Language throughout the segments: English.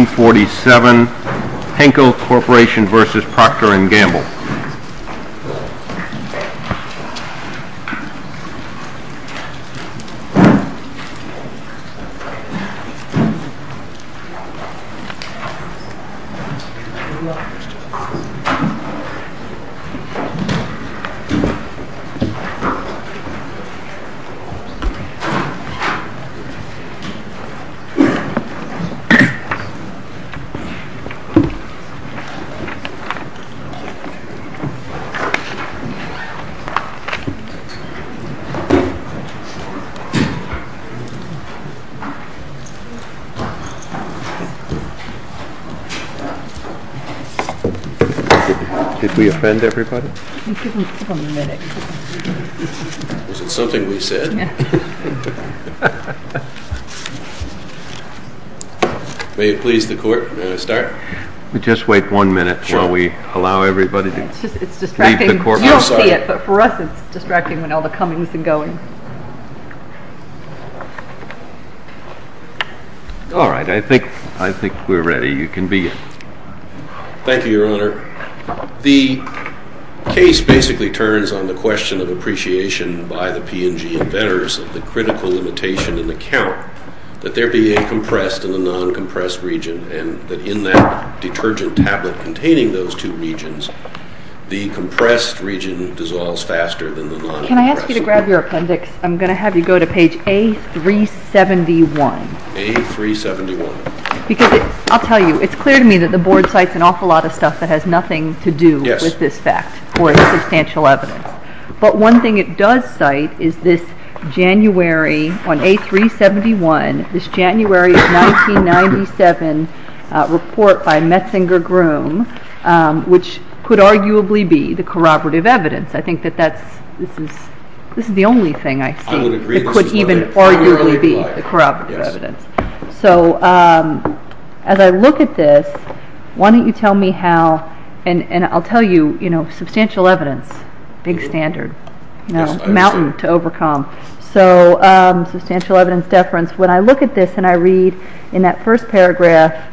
1947 Henkel Corporation v. Proctor & Gamble Did we offend everybody? You didn't take a minute. Was it something we said? Yeah. May it please the court, may I start? Just wait one minute while we allow everybody to leave the courtroom. It's distracting. You don't see it, but for us it's distracting when all the coming's and going. All right. I think we're ready. You can begin. Thank you, Your Honor. The case basically turns on the question of appreciation by the P&G inventors of the critical limitation in the count that there be a compressed and a non-compressed region, and that in that detergent tablet containing those two regions, the compressed region dissolves faster than the non-compressed. Can I ask you to grab your appendix? I'm going to have you go to page A371. A371. I'll tell you, it's clear to me that the Board cites an awful lot of stuff that has nothing to do with this fact or its substantial evidence. But one thing it does cite is this January, on A371, this January 1997 report by Metzinger-Groom, which could arguably be the corroborative evidence. I think that this is the only thing I see that could even arguably be the corroborative evidence. As I look at this, why don't you tell me how, and I'll tell you, substantial evidence, big standard, mountain to overcome. Substantial evidence deference. When I look at this and I read in that first paragraph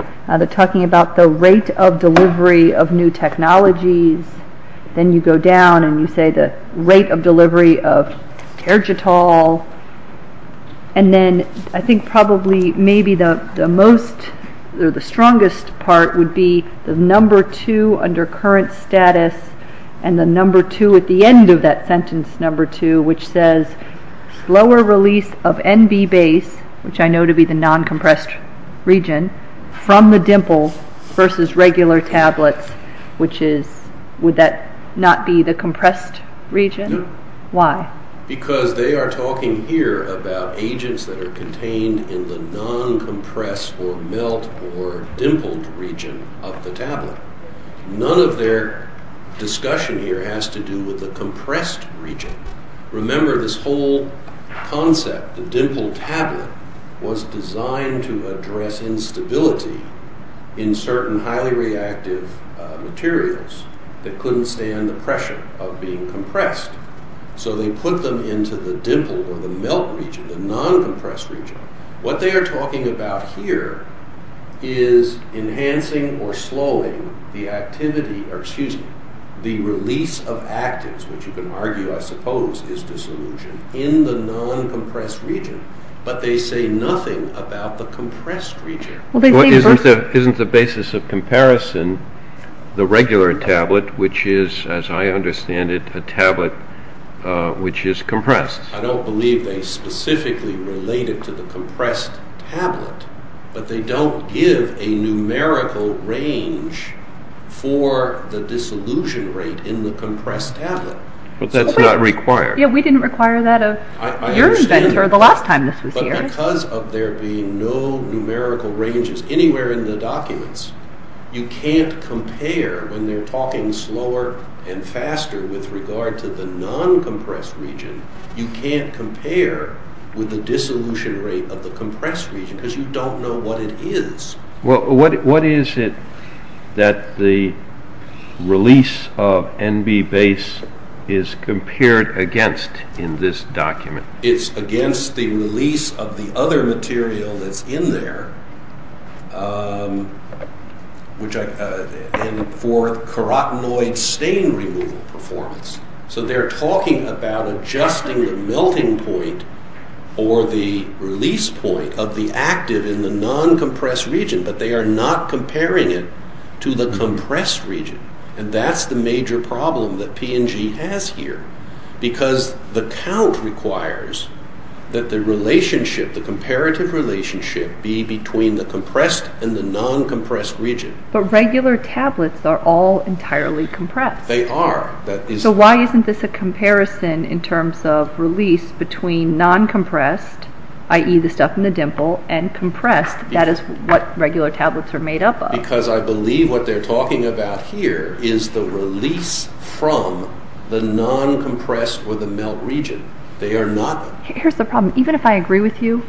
talking about the rate of delivery of new technologies, then you go down and you say the rate of delivery of Tergital, and then I think probably maybe the strongest part would be the number two under current status and the number two at the end of that sentence number two, which says slower release of NB base, which I know to be the non-compressed region, from the dimple versus regular tablets, which is, would that not be the compressed region? No. Why? Because they are talking here about agents that are contained in the non-compressed or melt or dimpled region of the tablet. None of their discussion here has to do with the compressed region. Remember, this whole concept, the dimpled tablet, was designed to address instability in certain highly reactive materials that couldn't stand the pressure of being compressed. So they put them into the dimpled or the melt region, the non-compressed region. What they are talking about here is enhancing or slowing the activity, or excuse me, the release of actives, which you can argue I suppose is dissolution, in the non-compressed region. But they say nothing about the compressed region. Isn't the basis of comparison the regular tablet, which is, as I understand it, a tablet which is compressed? I don't believe they specifically relate it to the compressed tablet, but they don't give a numerical range for the dissolution rate in the compressed tablet. But that's not required. Yeah, we didn't require that of your inventor the last time this was here. Because of there being no numerical ranges anywhere in the documents, you can't compare when they're talking slower and faster with regard to the non-compressed region, you can't compare with the dissolution rate of the compressed region because you don't know what it is. Well, what is it that the release of NB base is compared against in this document? It's against the release of the other material that's in there for carotenoid stain removal performance. So they're talking about adjusting the melting point or the release point of the active in the non-compressed region, but they are not comparing it to the compressed region. And that's the major problem that P&G has here. Because the count requires that the relationship, the comparative relationship, be between the compressed and the non-compressed region. But regular tablets are all entirely compressed. They are. So why isn't this a comparison in terms of release between non-compressed, i.e. the stuff in the dimple, and compressed, that is what regular tablets are made up of? Because I believe what they're talking about here is the release from the non-compressed or the melt region. They are not. Here's the problem. Even if I agree with you,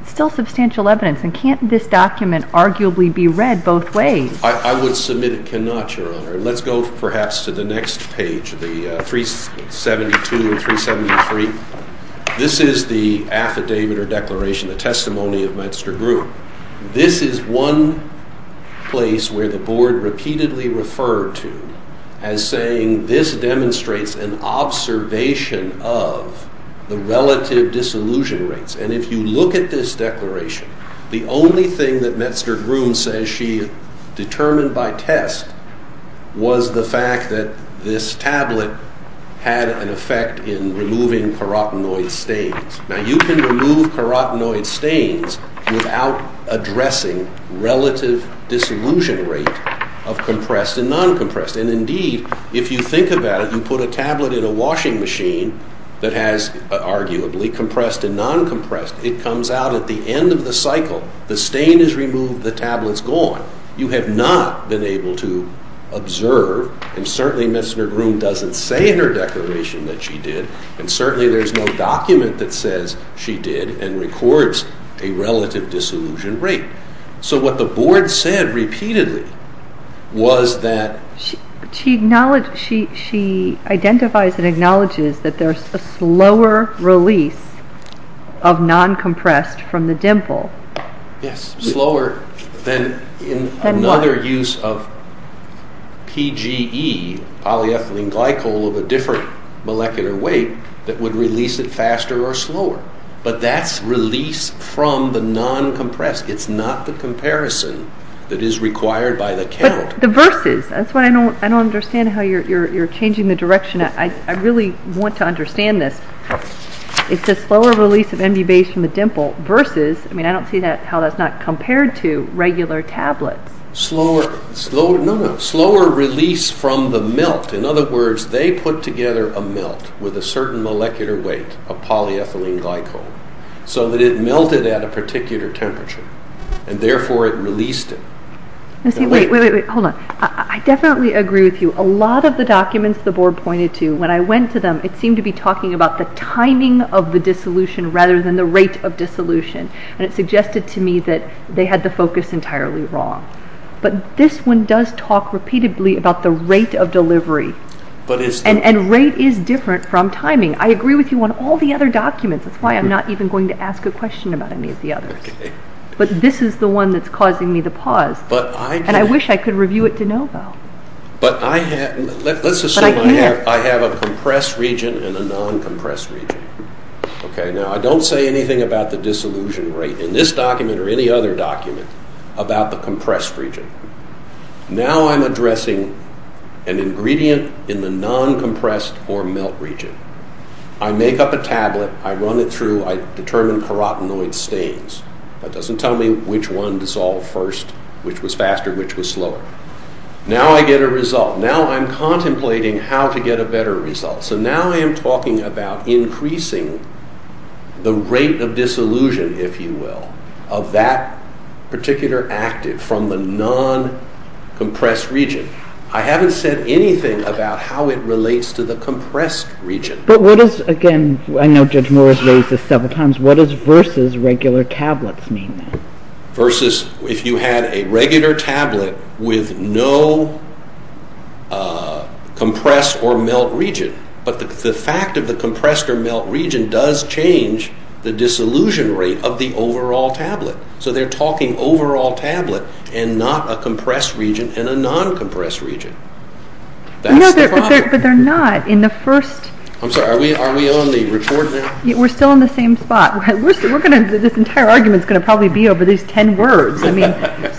it's still substantial evidence. And can't this document arguably be read both ways? I would submit it cannot, Your Honor. Let's go perhaps to the next page, the 372 and 373. This is the affidavit or declaration, the testimony of Menster Group. This is one place where the Board repeatedly referred to as saying this demonstrates an observation of the relative disillusion rates. And if you look at this declaration, the only thing that Menster Group says she determined by test was the fact that this tablet had an effect in removing carotenoid stains. Now, you can remove carotenoid stains without addressing relative disillusion rate of compressed and non-compressed. And indeed, if you think about it, you put a tablet in a washing machine that has arguably compressed and non-compressed. It comes out at the end of the cycle. The stain is removed. The tablet's gone. You have not been able to observe. And certainly, Menster Group doesn't say in her declaration that she did. And certainly, there's no document that says she did and records a relative disillusion rate. So what the Board said repeatedly was that... She identifies and acknowledges that there's a slower release of non-compressed from the dimple. Yes, slower than another use of PGE, polyethylene glycol, of a different molecular weight that would release it faster or slower. But that's release from the non-compressed. It's not the comparison that is required by the count. But the versus. That's why I don't understand how you're changing the direction. I really want to understand this. It's a slower release of MB base from the dimple versus. I mean, I don't see how that's not compared to regular tablets. No, no. Slower release from the melt. In other words, they put together a melt with a certain molecular weight of polyethylene glycol so that it melted at a particular temperature. And therefore, it released it. Wait, wait, wait. Hold on. I definitely agree with you. A lot of the documents the Board pointed to, when I went to them, it seemed to be talking about the timing of the dissolution rather than the rate of dissolution. And it suggested to me that they had the focus entirely wrong. But this one does talk repeatedly about the rate of delivery. And rate is different from timing. I agree with you on all the other documents. That's why I'm not even going to ask a question about any of the others. But this is the one that's causing me to pause. And I wish I could review it de novo. But I can't. Let's assume I have a compressed region and a non-compressed region. Now, I don't say anything about the dissolution rate in this document or any other document about the compressed region. Now I'm addressing an ingredient in the non-compressed or melt region. I make up a tablet. I run it through. I determine carotenoid stains. That doesn't tell me which one dissolved first, which was faster, which was slower. Now I get a result. Now I'm contemplating how to get a better result. So now I am talking about increasing the rate of dissolution, if you will, of that particular active from the non-compressed region. I haven't said anything about how it relates to the compressed region. But what is, again, I know Judge Moore has raised this several times, what does versus regular tablets mean? Versus if you had a regular tablet with no compressed or melt region. But the fact of the compressed or melt region does change the dissolution rate of the overall tablet. So they're talking overall tablet and not a compressed region and a non-compressed region. That's the problem. But they're not in the first. I'm sorry, are we on the report now? We're still in the same spot. This entire argument is going to probably be over these ten words.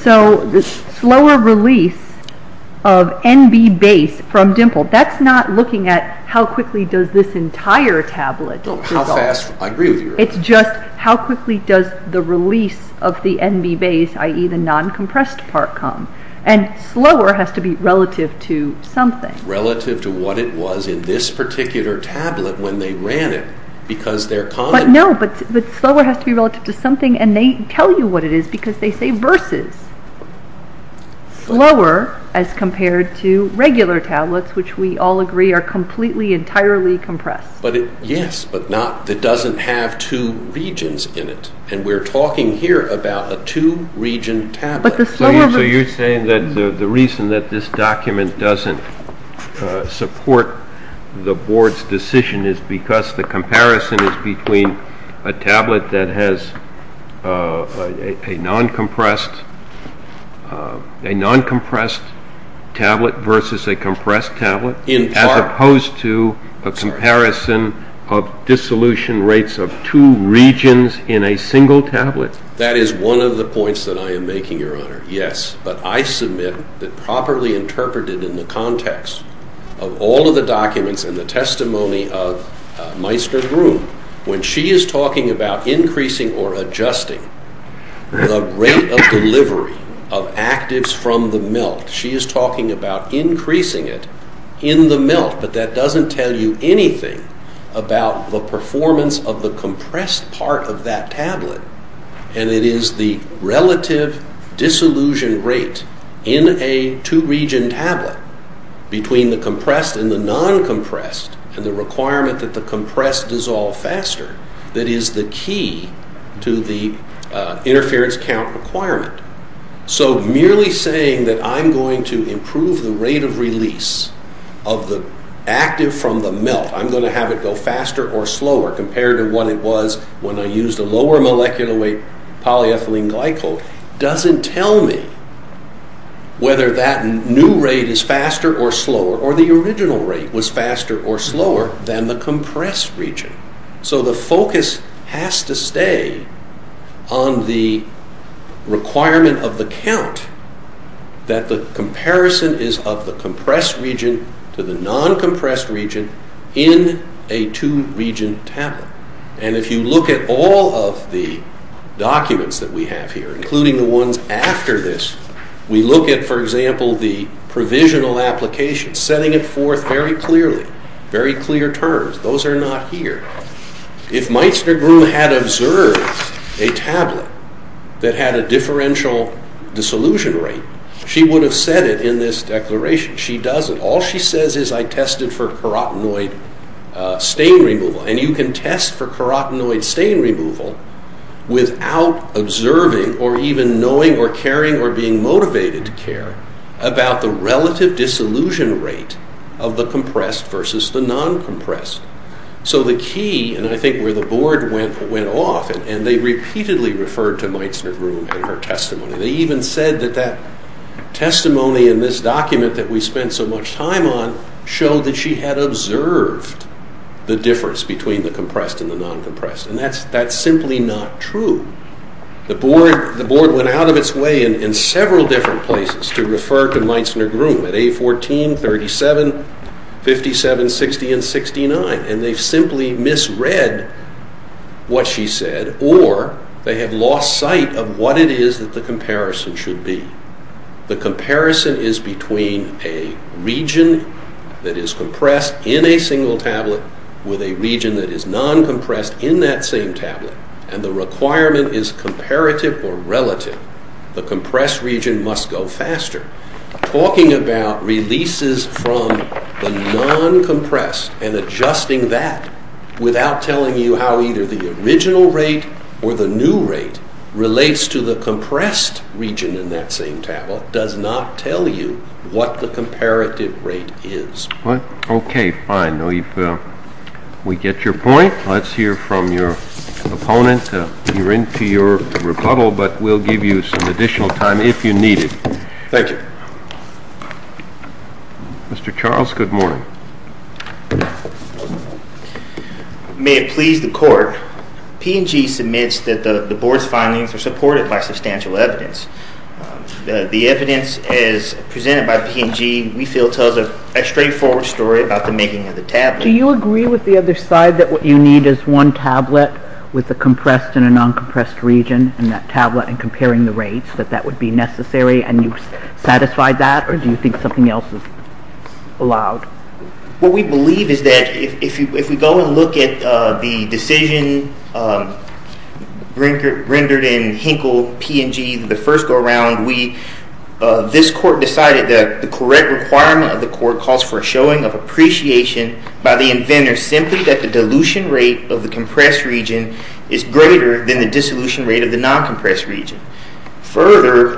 So slower release of NB base from dimple. That's not looking at how quickly does this entire tablet. How fast, I agree with you. It's just how quickly does the release of the NB base, i.e. the non-compressed part, come. And slower has to be relative to something. Relative to what it was in this particular tablet when they ran it because they're common. But no, but slower has to be relative to something. And they tell you what it is because they say versus. Slower as compared to regular tablets, which we all agree are completely entirely compressed. Yes, but not that doesn't have two regions in it. And we're talking here about a two-region tablet. So you're saying that the reason that this document doesn't support the board's decision is because the comparison is between a tablet that has a non-compressed tablet versus a compressed tablet. In part. As opposed to a comparison of dissolution rates of two regions in a single tablet. That is one of the points that I am making, Your Honor, yes. But I submit that properly interpreted in the context of all of the documents and the testimony of Meissner-Broom, when she is talking about increasing or adjusting the rate of delivery of actives from the melt, she is talking about increasing it in the melt. But that doesn't tell you anything about the performance of the compressed part of that tablet. And it is the relative dissolution rate in a two-region tablet between the compressed and the non-compressed and the requirement that the compressed dissolve faster that is the key to the interference count requirement. So merely saying that I'm going to improve the rate of release of the active from the melt, I'm going to have it go faster or slower compared to what it was when I used a lower molecular weight polyethylene glycol doesn't tell me whether that new rate is faster or slower or the original rate was faster or slower than the compressed region. So the focus has to stay on the requirement of the count that the comparison is of the compressed region to the non-compressed region in a two-region tablet. And if you look at all of the documents that we have here, including the ones after this, we look at, for example, the provisional application, setting it forth very clearly, very clear terms. Those are not here. If Meisner-Groom had observed a tablet that had a differential dissolution rate, she would have said it in this declaration. She doesn't. All she says is I tested for carotenoid stain removal. And you can test for carotenoid stain removal without observing or even knowing or caring or being motivated to care about the relative dissolution rate of the compressed versus the non-compressed. So the key, and I think where the board went off, and they repeatedly referred to Meisner-Groom and her testimony. They even said that that testimony in this document that we spent so much time on showed that she had observed the difference between the compressed and the non-compressed. And that's simply not true. The board went out of its way in several different places to refer to Meisner-Groom at A14, 37, 57, 60, and 69, and they've simply misread what she said or they have lost sight of what it is that the comparison should be. The comparison is between a region that is compressed in a single tablet with a region that is non-compressed in that same tablet, and the requirement is comparative or relative. The compressed region must go faster. Talking about releases from the non-compressed and adjusting that without telling you how either the original rate or the new rate relates to the compressed region in that same tablet does not tell you what the comparative rate is. Okay, fine. We get your point. Let's hear from your opponent. We're into your rebuttal, but we'll give you some additional time if you need it. Thank you. Mr. Charles, good morning. May it please the court, P&G submits that the board's findings are supported by substantial evidence. The evidence as presented by P&G we feel tells a straightforward story about the making of the tablet. Do you agree with the other side that what you need is one tablet with a compressed and a non-compressed region in that tablet and comparing the rates, that that would be necessary, and you've satisfied that, or do you think something else is allowed? What we believe is that if we go and look at the decision rendered in Hinkle, P&G, the first go-around, this court decided that the correct requirement of the court calls for a showing of appreciation by the inventor simply that the dilution rate of the compressed region is greater than the dissolution rate of the non-compressed region. Further,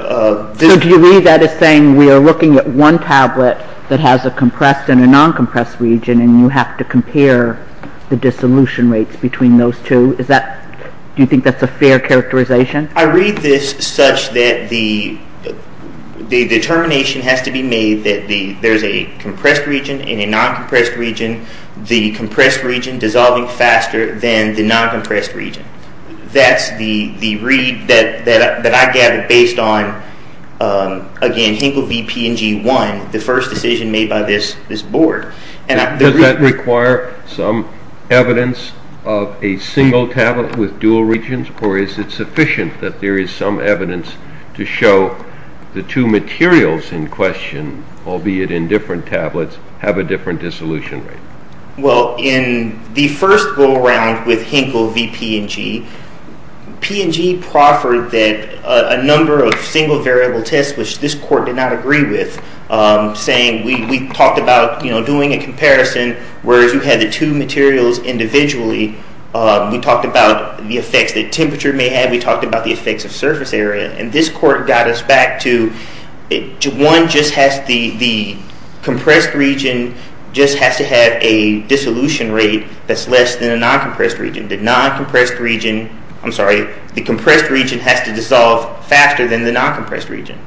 this- So do you read that as saying we are looking at one tablet that has a compressed and a non-compressed region and you have to compare the dissolution rates between those two? Do you think that's a fair characterization? I read this such that the determination has to be made that there's a compressed region and a non-compressed region. The compressed region dissolving faster than the non-compressed region. That's the read that I gather based on, again, Hinkle v. P&G 1, the first decision made by this board. Does that require some evidence of a single tablet with dual regions, or is it sufficient that there is some evidence to show the two materials in question, albeit in different tablets, have a different dissolution rate? Well, in the first go-around with Hinkle v. P&G, P&G proffered that a number of single-variable tests, which this court did not agree with, saying we talked about doing a comparison where you had the two materials individually. We talked about the effects that temperature may have. We talked about the effects of surface area. And this court got us back to one just has the compressed region just has to have a dissolution rate that's less than a non-compressed region. The non-compressed region, I'm sorry, the compressed region has to dissolve faster than the non-compressed region.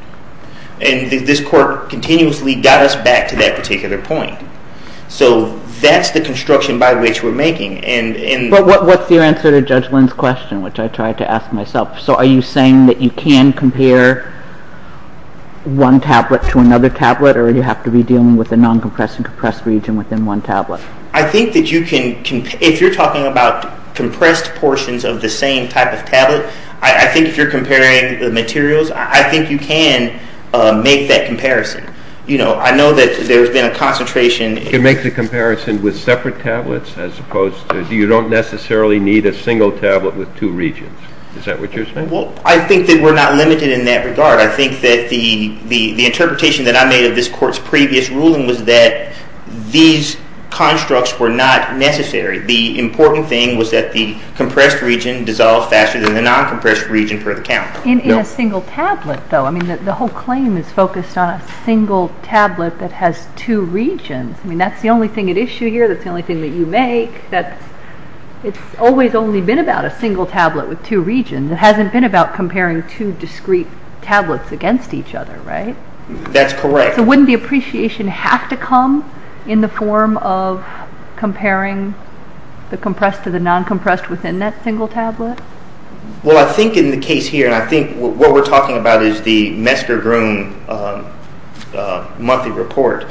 And this court continuously got us back to that particular point. So that's the construction by which we're making. But what's your answer to Judge Lynn's question, which I tried to ask myself? So are you saying that you can compare one tablet to another tablet or do you have to be dealing with a non-compressed and compressed region within one tablet? I think that you can, if you're talking about compressed portions of the same type of tablet, I think if you're comparing the materials, I think you can make that comparison. You know, I know that there's been a concentration. You can make the comparison with separate tablets as opposed to, you don't necessarily need a single tablet with two regions. Is that what you're saying? Well, I think that we're not limited in that regard. I think that the interpretation that I made of this court's previous ruling was that these constructs were not necessary. The important thing was that the compressed region dissolved faster than the non-compressed region per the count. In a single tablet though, I mean, the whole claim is focused on a single tablet that has two regions. I mean, that's the only thing at issue here. That's the only thing that you make. It's always only been about a single tablet with two regions. It hasn't been about comparing two discrete tablets against each other, right? That's correct. So wouldn't the appreciation have to come in the form of comparing the compressed to the non-compressed within that single tablet? Well, I think in the case here, and I think what we're talking about is the Messger-Groom monthly report.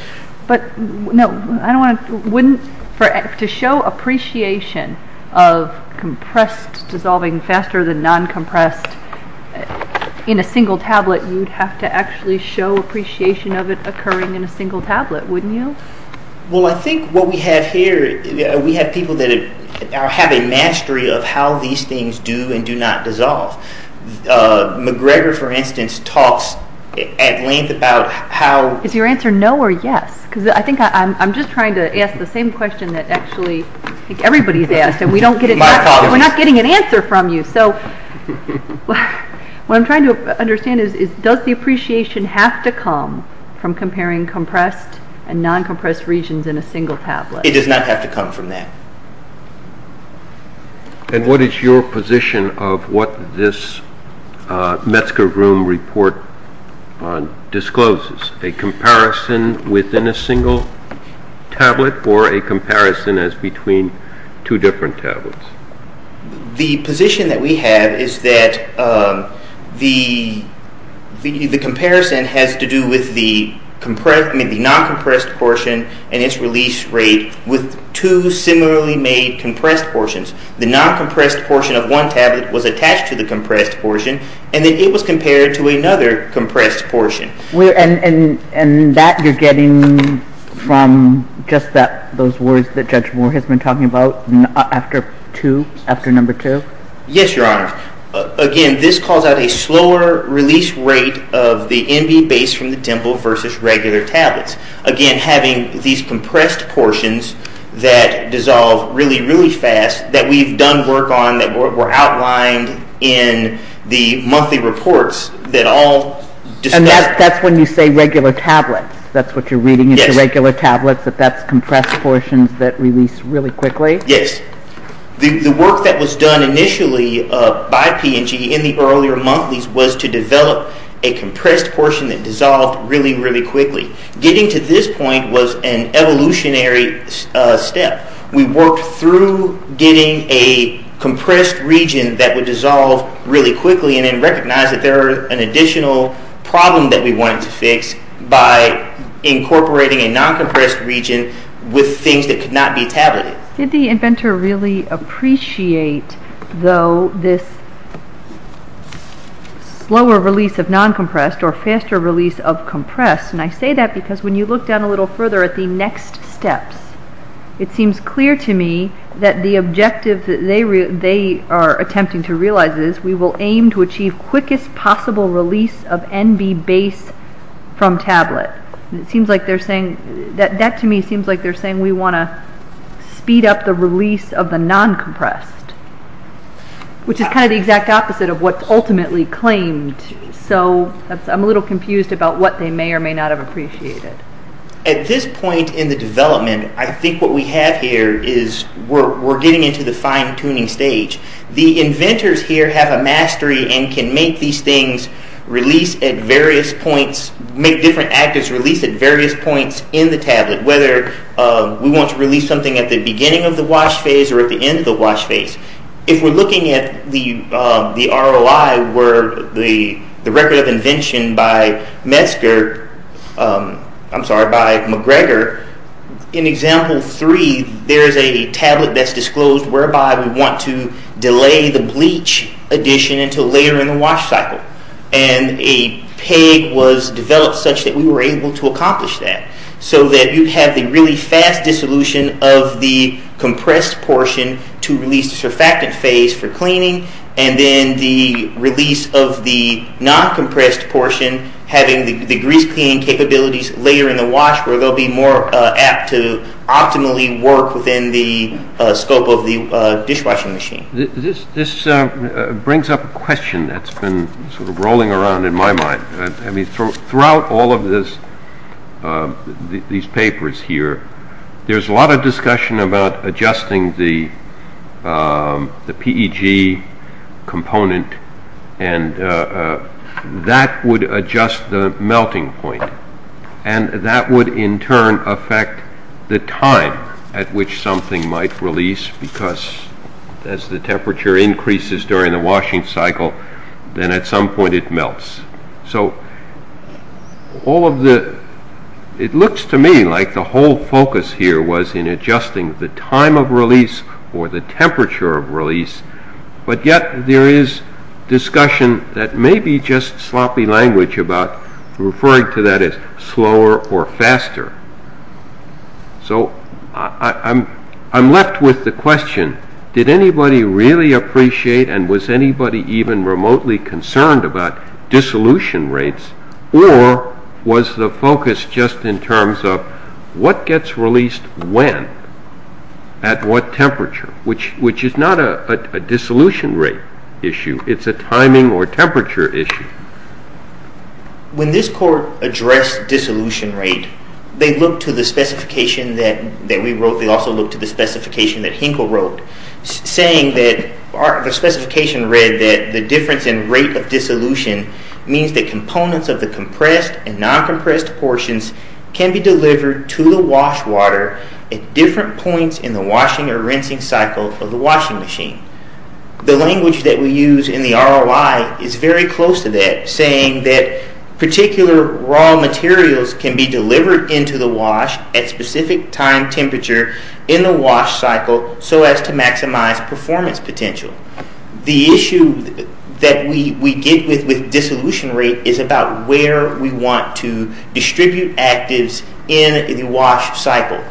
But no, I don't want to – to show appreciation of compressed dissolving faster than non-compressed in a single tablet, you'd have to actually show appreciation of it occurring in a single tablet, wouldn't you? Well, I think what we have here, we have people that have a mastery of how these things do and do not dissolve. McGregor, for instance, talks at length about how – Is your answer no or yes? Because I think I'm just trying to ask the same question that actually I think everybody's asked, and we don't get – we're not getting an answer from you. So what I'm trying to understand is does the appreciation have to come from comparing compressed and non-compressed regions in a single tablet? It does not have to come from that. And what is your position of what this Messger-Groom report discloses, a comparison within a single tablet or a comparison as between two different tablets? The position that we have is that the comparison has to do with the non-compressed portion and its release rate with two similarly made compressed portions. The non-compressed portion of one tablet was attached to the compressed portion, and then it was compared to another compressed portion. And that you're getting from just those words that Judge Moore has been talking about after number two? Yes, Your Honor. Again, this calls out a slower release rate of the NB base from the dimple versus regular tablets. Again, having these compressed portions that dissolve really, really fast that we've done work on, that were outlined in the monthly reports that all – And that's when you say regular tablets? That's what you're reading into regular tablets, that that's compressed portions that release really quickly? Yes. The work that was done initially by P&G in the earlier monthlies was to develop a compressed portion that dissolved really, really quickly. Getting to this point was an evolutionary step. We worked through getting a compressed region that would dissolve really quickly and then recognized that there was an additional problem that we wanted to fix by incorporating a non-compressed region with things that could not be tabulated. Did the inventor really appreciate, though, this slower release of non-compressed or faster release of compressed? I say that because when you look down a little further at the next steps, it seems clear to me that the objective that they are attempting to realize is we will aim to achieve quickest possible release of NB base from tablet. That to me seems like they're saying we want to speed up the release of the non-compressed, which is kind of the exact opposite of what's ultimately claimed. I'm a little confused about what they may or may not have appreciated. At this point in the development, I think what we have here is we're getting into the fine-tuning stage. The inventors here have a mastery and can make these things release at various points, make different actives release at various points in the tablet, whether we want to release something at the beginning of the wash phase or at the end of the wash phase. If we're looking at the ROI, the record of invention by McGregor, in example three, there is a tablet that's disclosed whereby we want to delay the bleach addition until later in the wash cycle. A peg was developed such that we were able to accomplish that so that you have the really fast dissolution of the compressed portion to release the surfactant phase for cleaning and then the release of the non-compressed portion having the grease cleaning capabilities later in the wash where they'll be more apt to optimally work within the scope of the dishwashing machine. This brings up a question that's been rolling around in my mind. Throughout all of these papers here, there's a lot of discussion about adjusting the PEG component and that would adjust the melting point and that would in turn affect the time at which something might release because as the temperature increases during the washing cycle, then at some point it melts. So it looks to me like the whole focus here was in adjusting the time of release or the temperature of release, but yet there is discussion that may be just sloppy language about referring to that as slower or faster. So I'm left with the question, did anybody really appreciate and was anybody even remotely concerned about dissolution rates or was the focus just in terms of what gets released when, at what temperature, which is not a dissolution rate issue, it's a timing or temperature issue. When this court addressed dissolution rate, they looked to the specification that we wrote. They also looked to the specification that Hinkle wrote, saying that the specification read that the difference in rate of dissolution means that components of the compressed and non-compressed portions can be delivered to the wash water at different points in the washing or rinsing cycle of the washing machine. The language that we use in the ROI is very close to that, saying that particular raw materials can be delivered into the wash at specific time temperature in the wash cycle so as to maximize performance potential. The issue that we get with dissolution rate is about where we want to distribute actives in the wash cycle.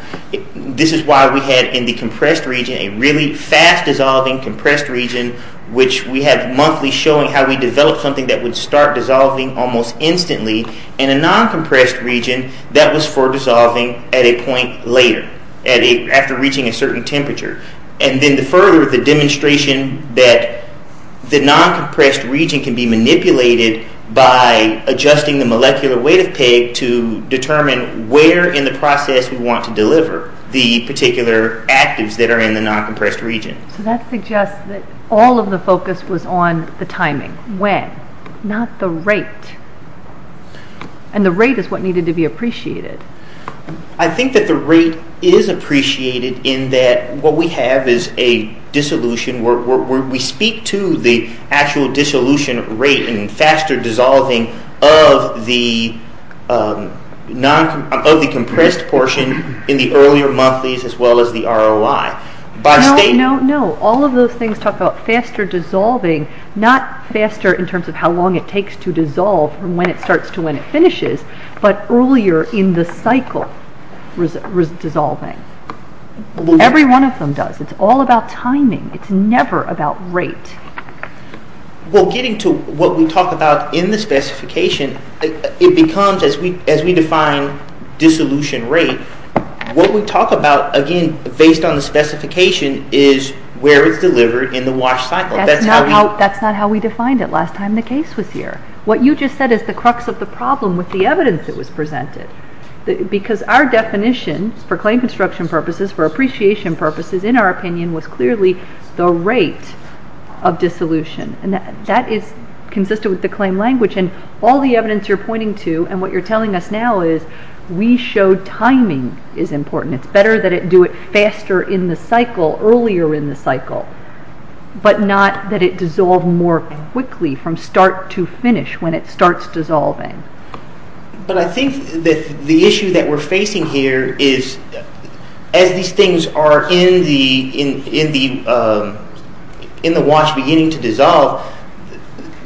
This is why we had in the compressed region a really fast-dissolving compressed region, which we had monthly showing how we developed something that would start dissolving almost instantly. In a non-compressed region, that was for dissolving at a point later, after reaching a certain temperature. And then further, the demonstration that the non-compressed region can be manipulated by adjusting the molecular weight of PEG to determine where in the process we want to deliver the particular actives that are in the non-compressed region. So that suggests that all of the focus was on the timing, when, not the rate. And the rate is what needed to be appreciated. I think that the rate is appreciated in that what we have is a dissolution. We speak to the actual dissolution rate and faster dissolving of the compressed portion in the earlier monthlies as well as the ROI. No, no, no. All of those things talk about faster dissolving, not faster in terms of how long it takes to dissolve from when it starts to when it finishes, but earlier in the cycle dissolving. Every one of them does. It's all about timing. It's never about rate. Well, getting to what we talk about in the specification, it becomes, as we define dissolution rate, what we talk about, again, based on the specification, is where it's delivered in the wash cycle. That's not how we defined it last time the case was here. What you just said is the crux of the problem with the evidence that was presented. Because our definition for claim construction purposes, for appreciation purposes, in our opinion, was clearly the rate of dissolution. And that is consistent with the claim language. And all the evidence you're pointing to and what you're telling us now is we show timing is important. It's better that it do it faster in the cycle, earlier in the cycle, but not that it dissolve more quickly from start to finish when it starts dissolving. But I think that the issue that we're facing here is, as these things are in the wash beginning to dissolve,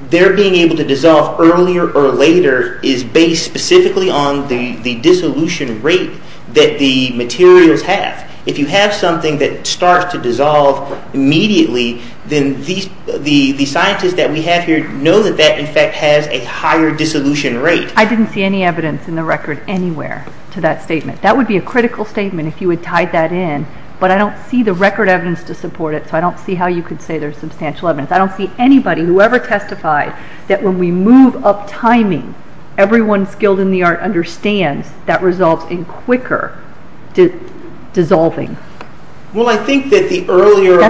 their being able to dissolve earlier or later is based specifically on the dissolution rate that the materials have. If you have something that starts to dissolve immediately, then the scientists that we have here know that that, in fact, has a higher dissolution rate. I didn't see any evidence in the record anywhere to that statement. That would be a critical statement if you had tied that in. But I don't see the record evidence to support it, so I don't see how you could say there's substantial evidence. I don't see anybody, whoever testified, that when we move up timing, everyone skilled in the art understands that results in quicker dissolving. Well, I think that the earlier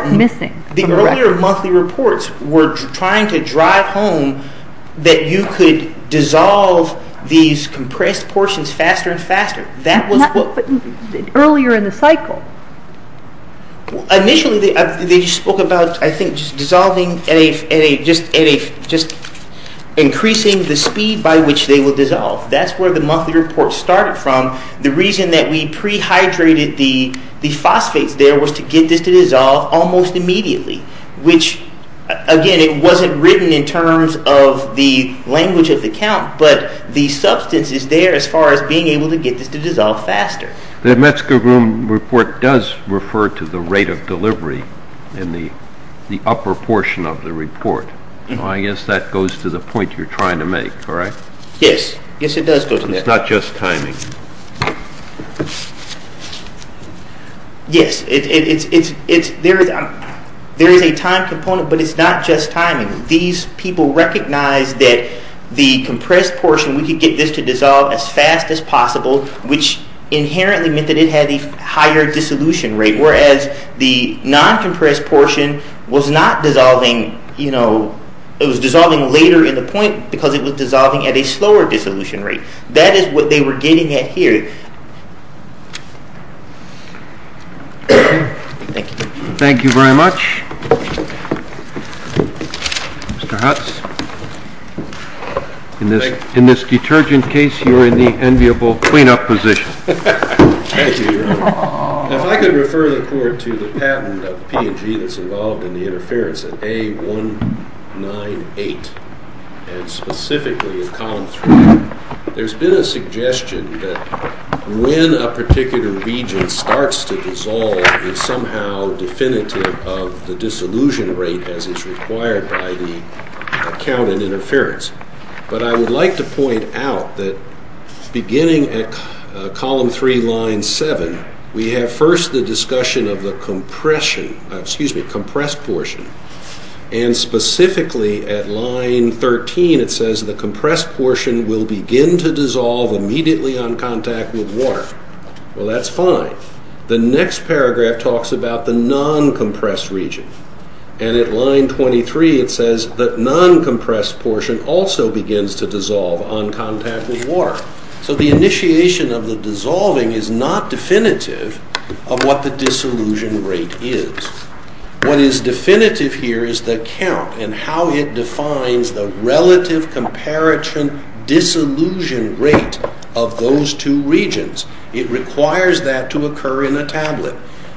monthly reports were trying to drive home that you could dissolve these compressed portions faster and faster. Earlier in the cycle. Initially, they spoke about, I think, just increasing the speed by which they will dissolve. That's where the monthly report started from. The reason that we pre-hydrated the phosphates there was to get this to dissolve almost immediately, which, again, it wasn't written in terms of the language of the count, but the substance is there as far as being able to get this to dissolve faster. The Metzger-Groom report does refer to the rate of delivery in the upper portion of the report. I guess that goes to the point you're trying to make, correct? Yes. Yes, it does go to that. It's not just timing. Yes, there is a time component, but it's not just timing. These people recognized that the compressed portion, we could get this to dissolve as fast as possible, which inherently meant that it had a higher dissolution rate, whereas the non-compressed portion was dissolving later in the point because it was dissolving at a slower dissolution rate. That is what they were getting at here. Thank you. Thank you very much. Mr. Hutz, in this detergent case, you're in the enviable clean-up position. Thank you, Your Honor. If I could refer the Court to the patent of P&G that's involved in the interference at A198, and specifically at Column 3, there's been a suggestion that when a particular region starts to dissolve, it's somehow definitive of the dissolution rate as is required by the count in interference. But I would like to point out that beginning at Column 3, Line 7, we have first the discussion of the compressed portion, and specifically at Line 13, it says, the compressed portion will begin to dissolve immediately on contact with water. Well, that's fine. The next paragraph talks about the non-compressed region, and at Line 23, it says, the non-compressed portion also begins to dissolve on contact with water. So the initiation of the dissolving is not definitive of what the dissolution rate is. What is definitive here is the count and how it defines the relative comparison dissolution rate of those two regions. It requires that to occur in a tablet.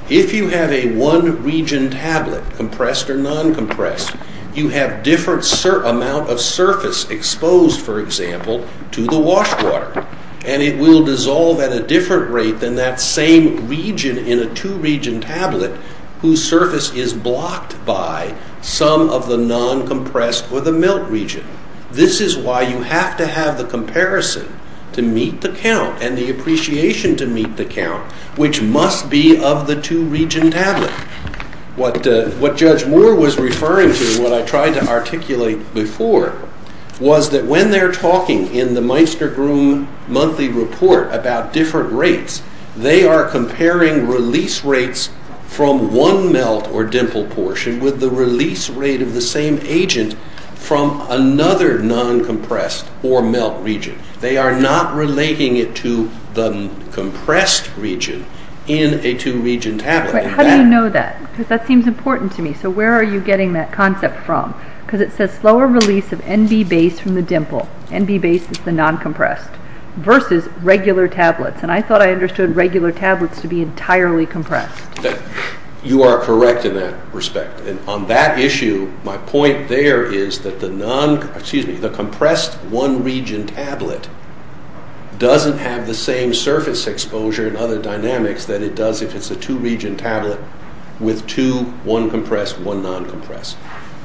If you have a one-region tablet, compressed or non-compressed, you have different amount of surface exposed, for example, to the wash water, and it will dissolve at a different rate than that same region in a two-region tablet whose surface is blocked by some of the non-compressed or the melt region. This is why you have to have the comparison to meet the count and the appreciation to meet the count, which must be of the two-region tablet. What Judge Moore was referring to, what I tried to articulate before, was that when they're talking in the Meister-Groom monthly report about different rates, they are comparing release rates from one melt or dimple portion with the release rate of the same agent from another non-compressed or melt region. They are not relating it to the compressed region in a two-region tablet. How do you know that? Because that seems important to me. So where are you getting that concept from? Because it says slower release of NB base from the dimple, NB base is the non-compressed, versus regular tablets. I thought I understood regular tablets to be entirely compressed. You are correct in that respect. On that issue, my point there is that the compressed one-region tablet doesn't have the same surface exposure and other dynamics that it does if it's a two-region tablet with two, one compressed, one non-compressed.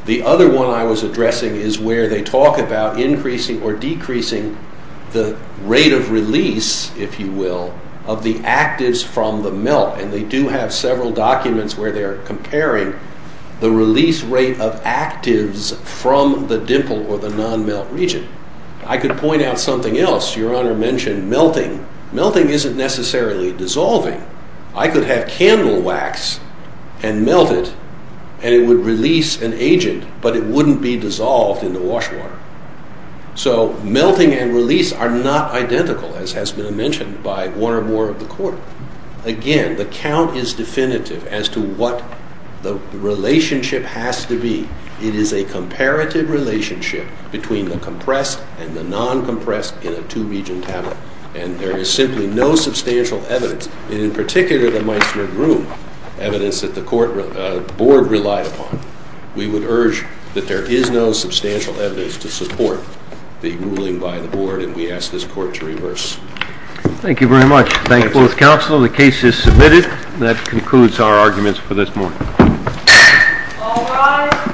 The other one I was addressing is where they talk about increasing or decreasing the rate of release, if you will, of the actives from the melt, and they do have several documents where they are comparing the release rate of actives from the dimple or the non-melt region. I could point out something else. Your Honor mentioned melting. Melting isn't necessarily dissolving. I could have candle wax and melt it, and it would release an agent, but it wouldn't be dissolved in the wash water. So melting and release are not identical, as has been mentioned by one or more of the Court. Again, the count is definitive as to what the relationship has to be. It is a comparative relationship between the compressed and the non-compressed in a two-region tablet, and there is simply no substantial evidence, and in particular the Meissner-Groom evidence that the Board relied upon. We would urge that there is no substantial evidence to support the ruling by the Board, and we ask this Court to reverse. Thank you very much. Thank both counsel. The case is submitted. That concludes our arguments for this morning. All rise.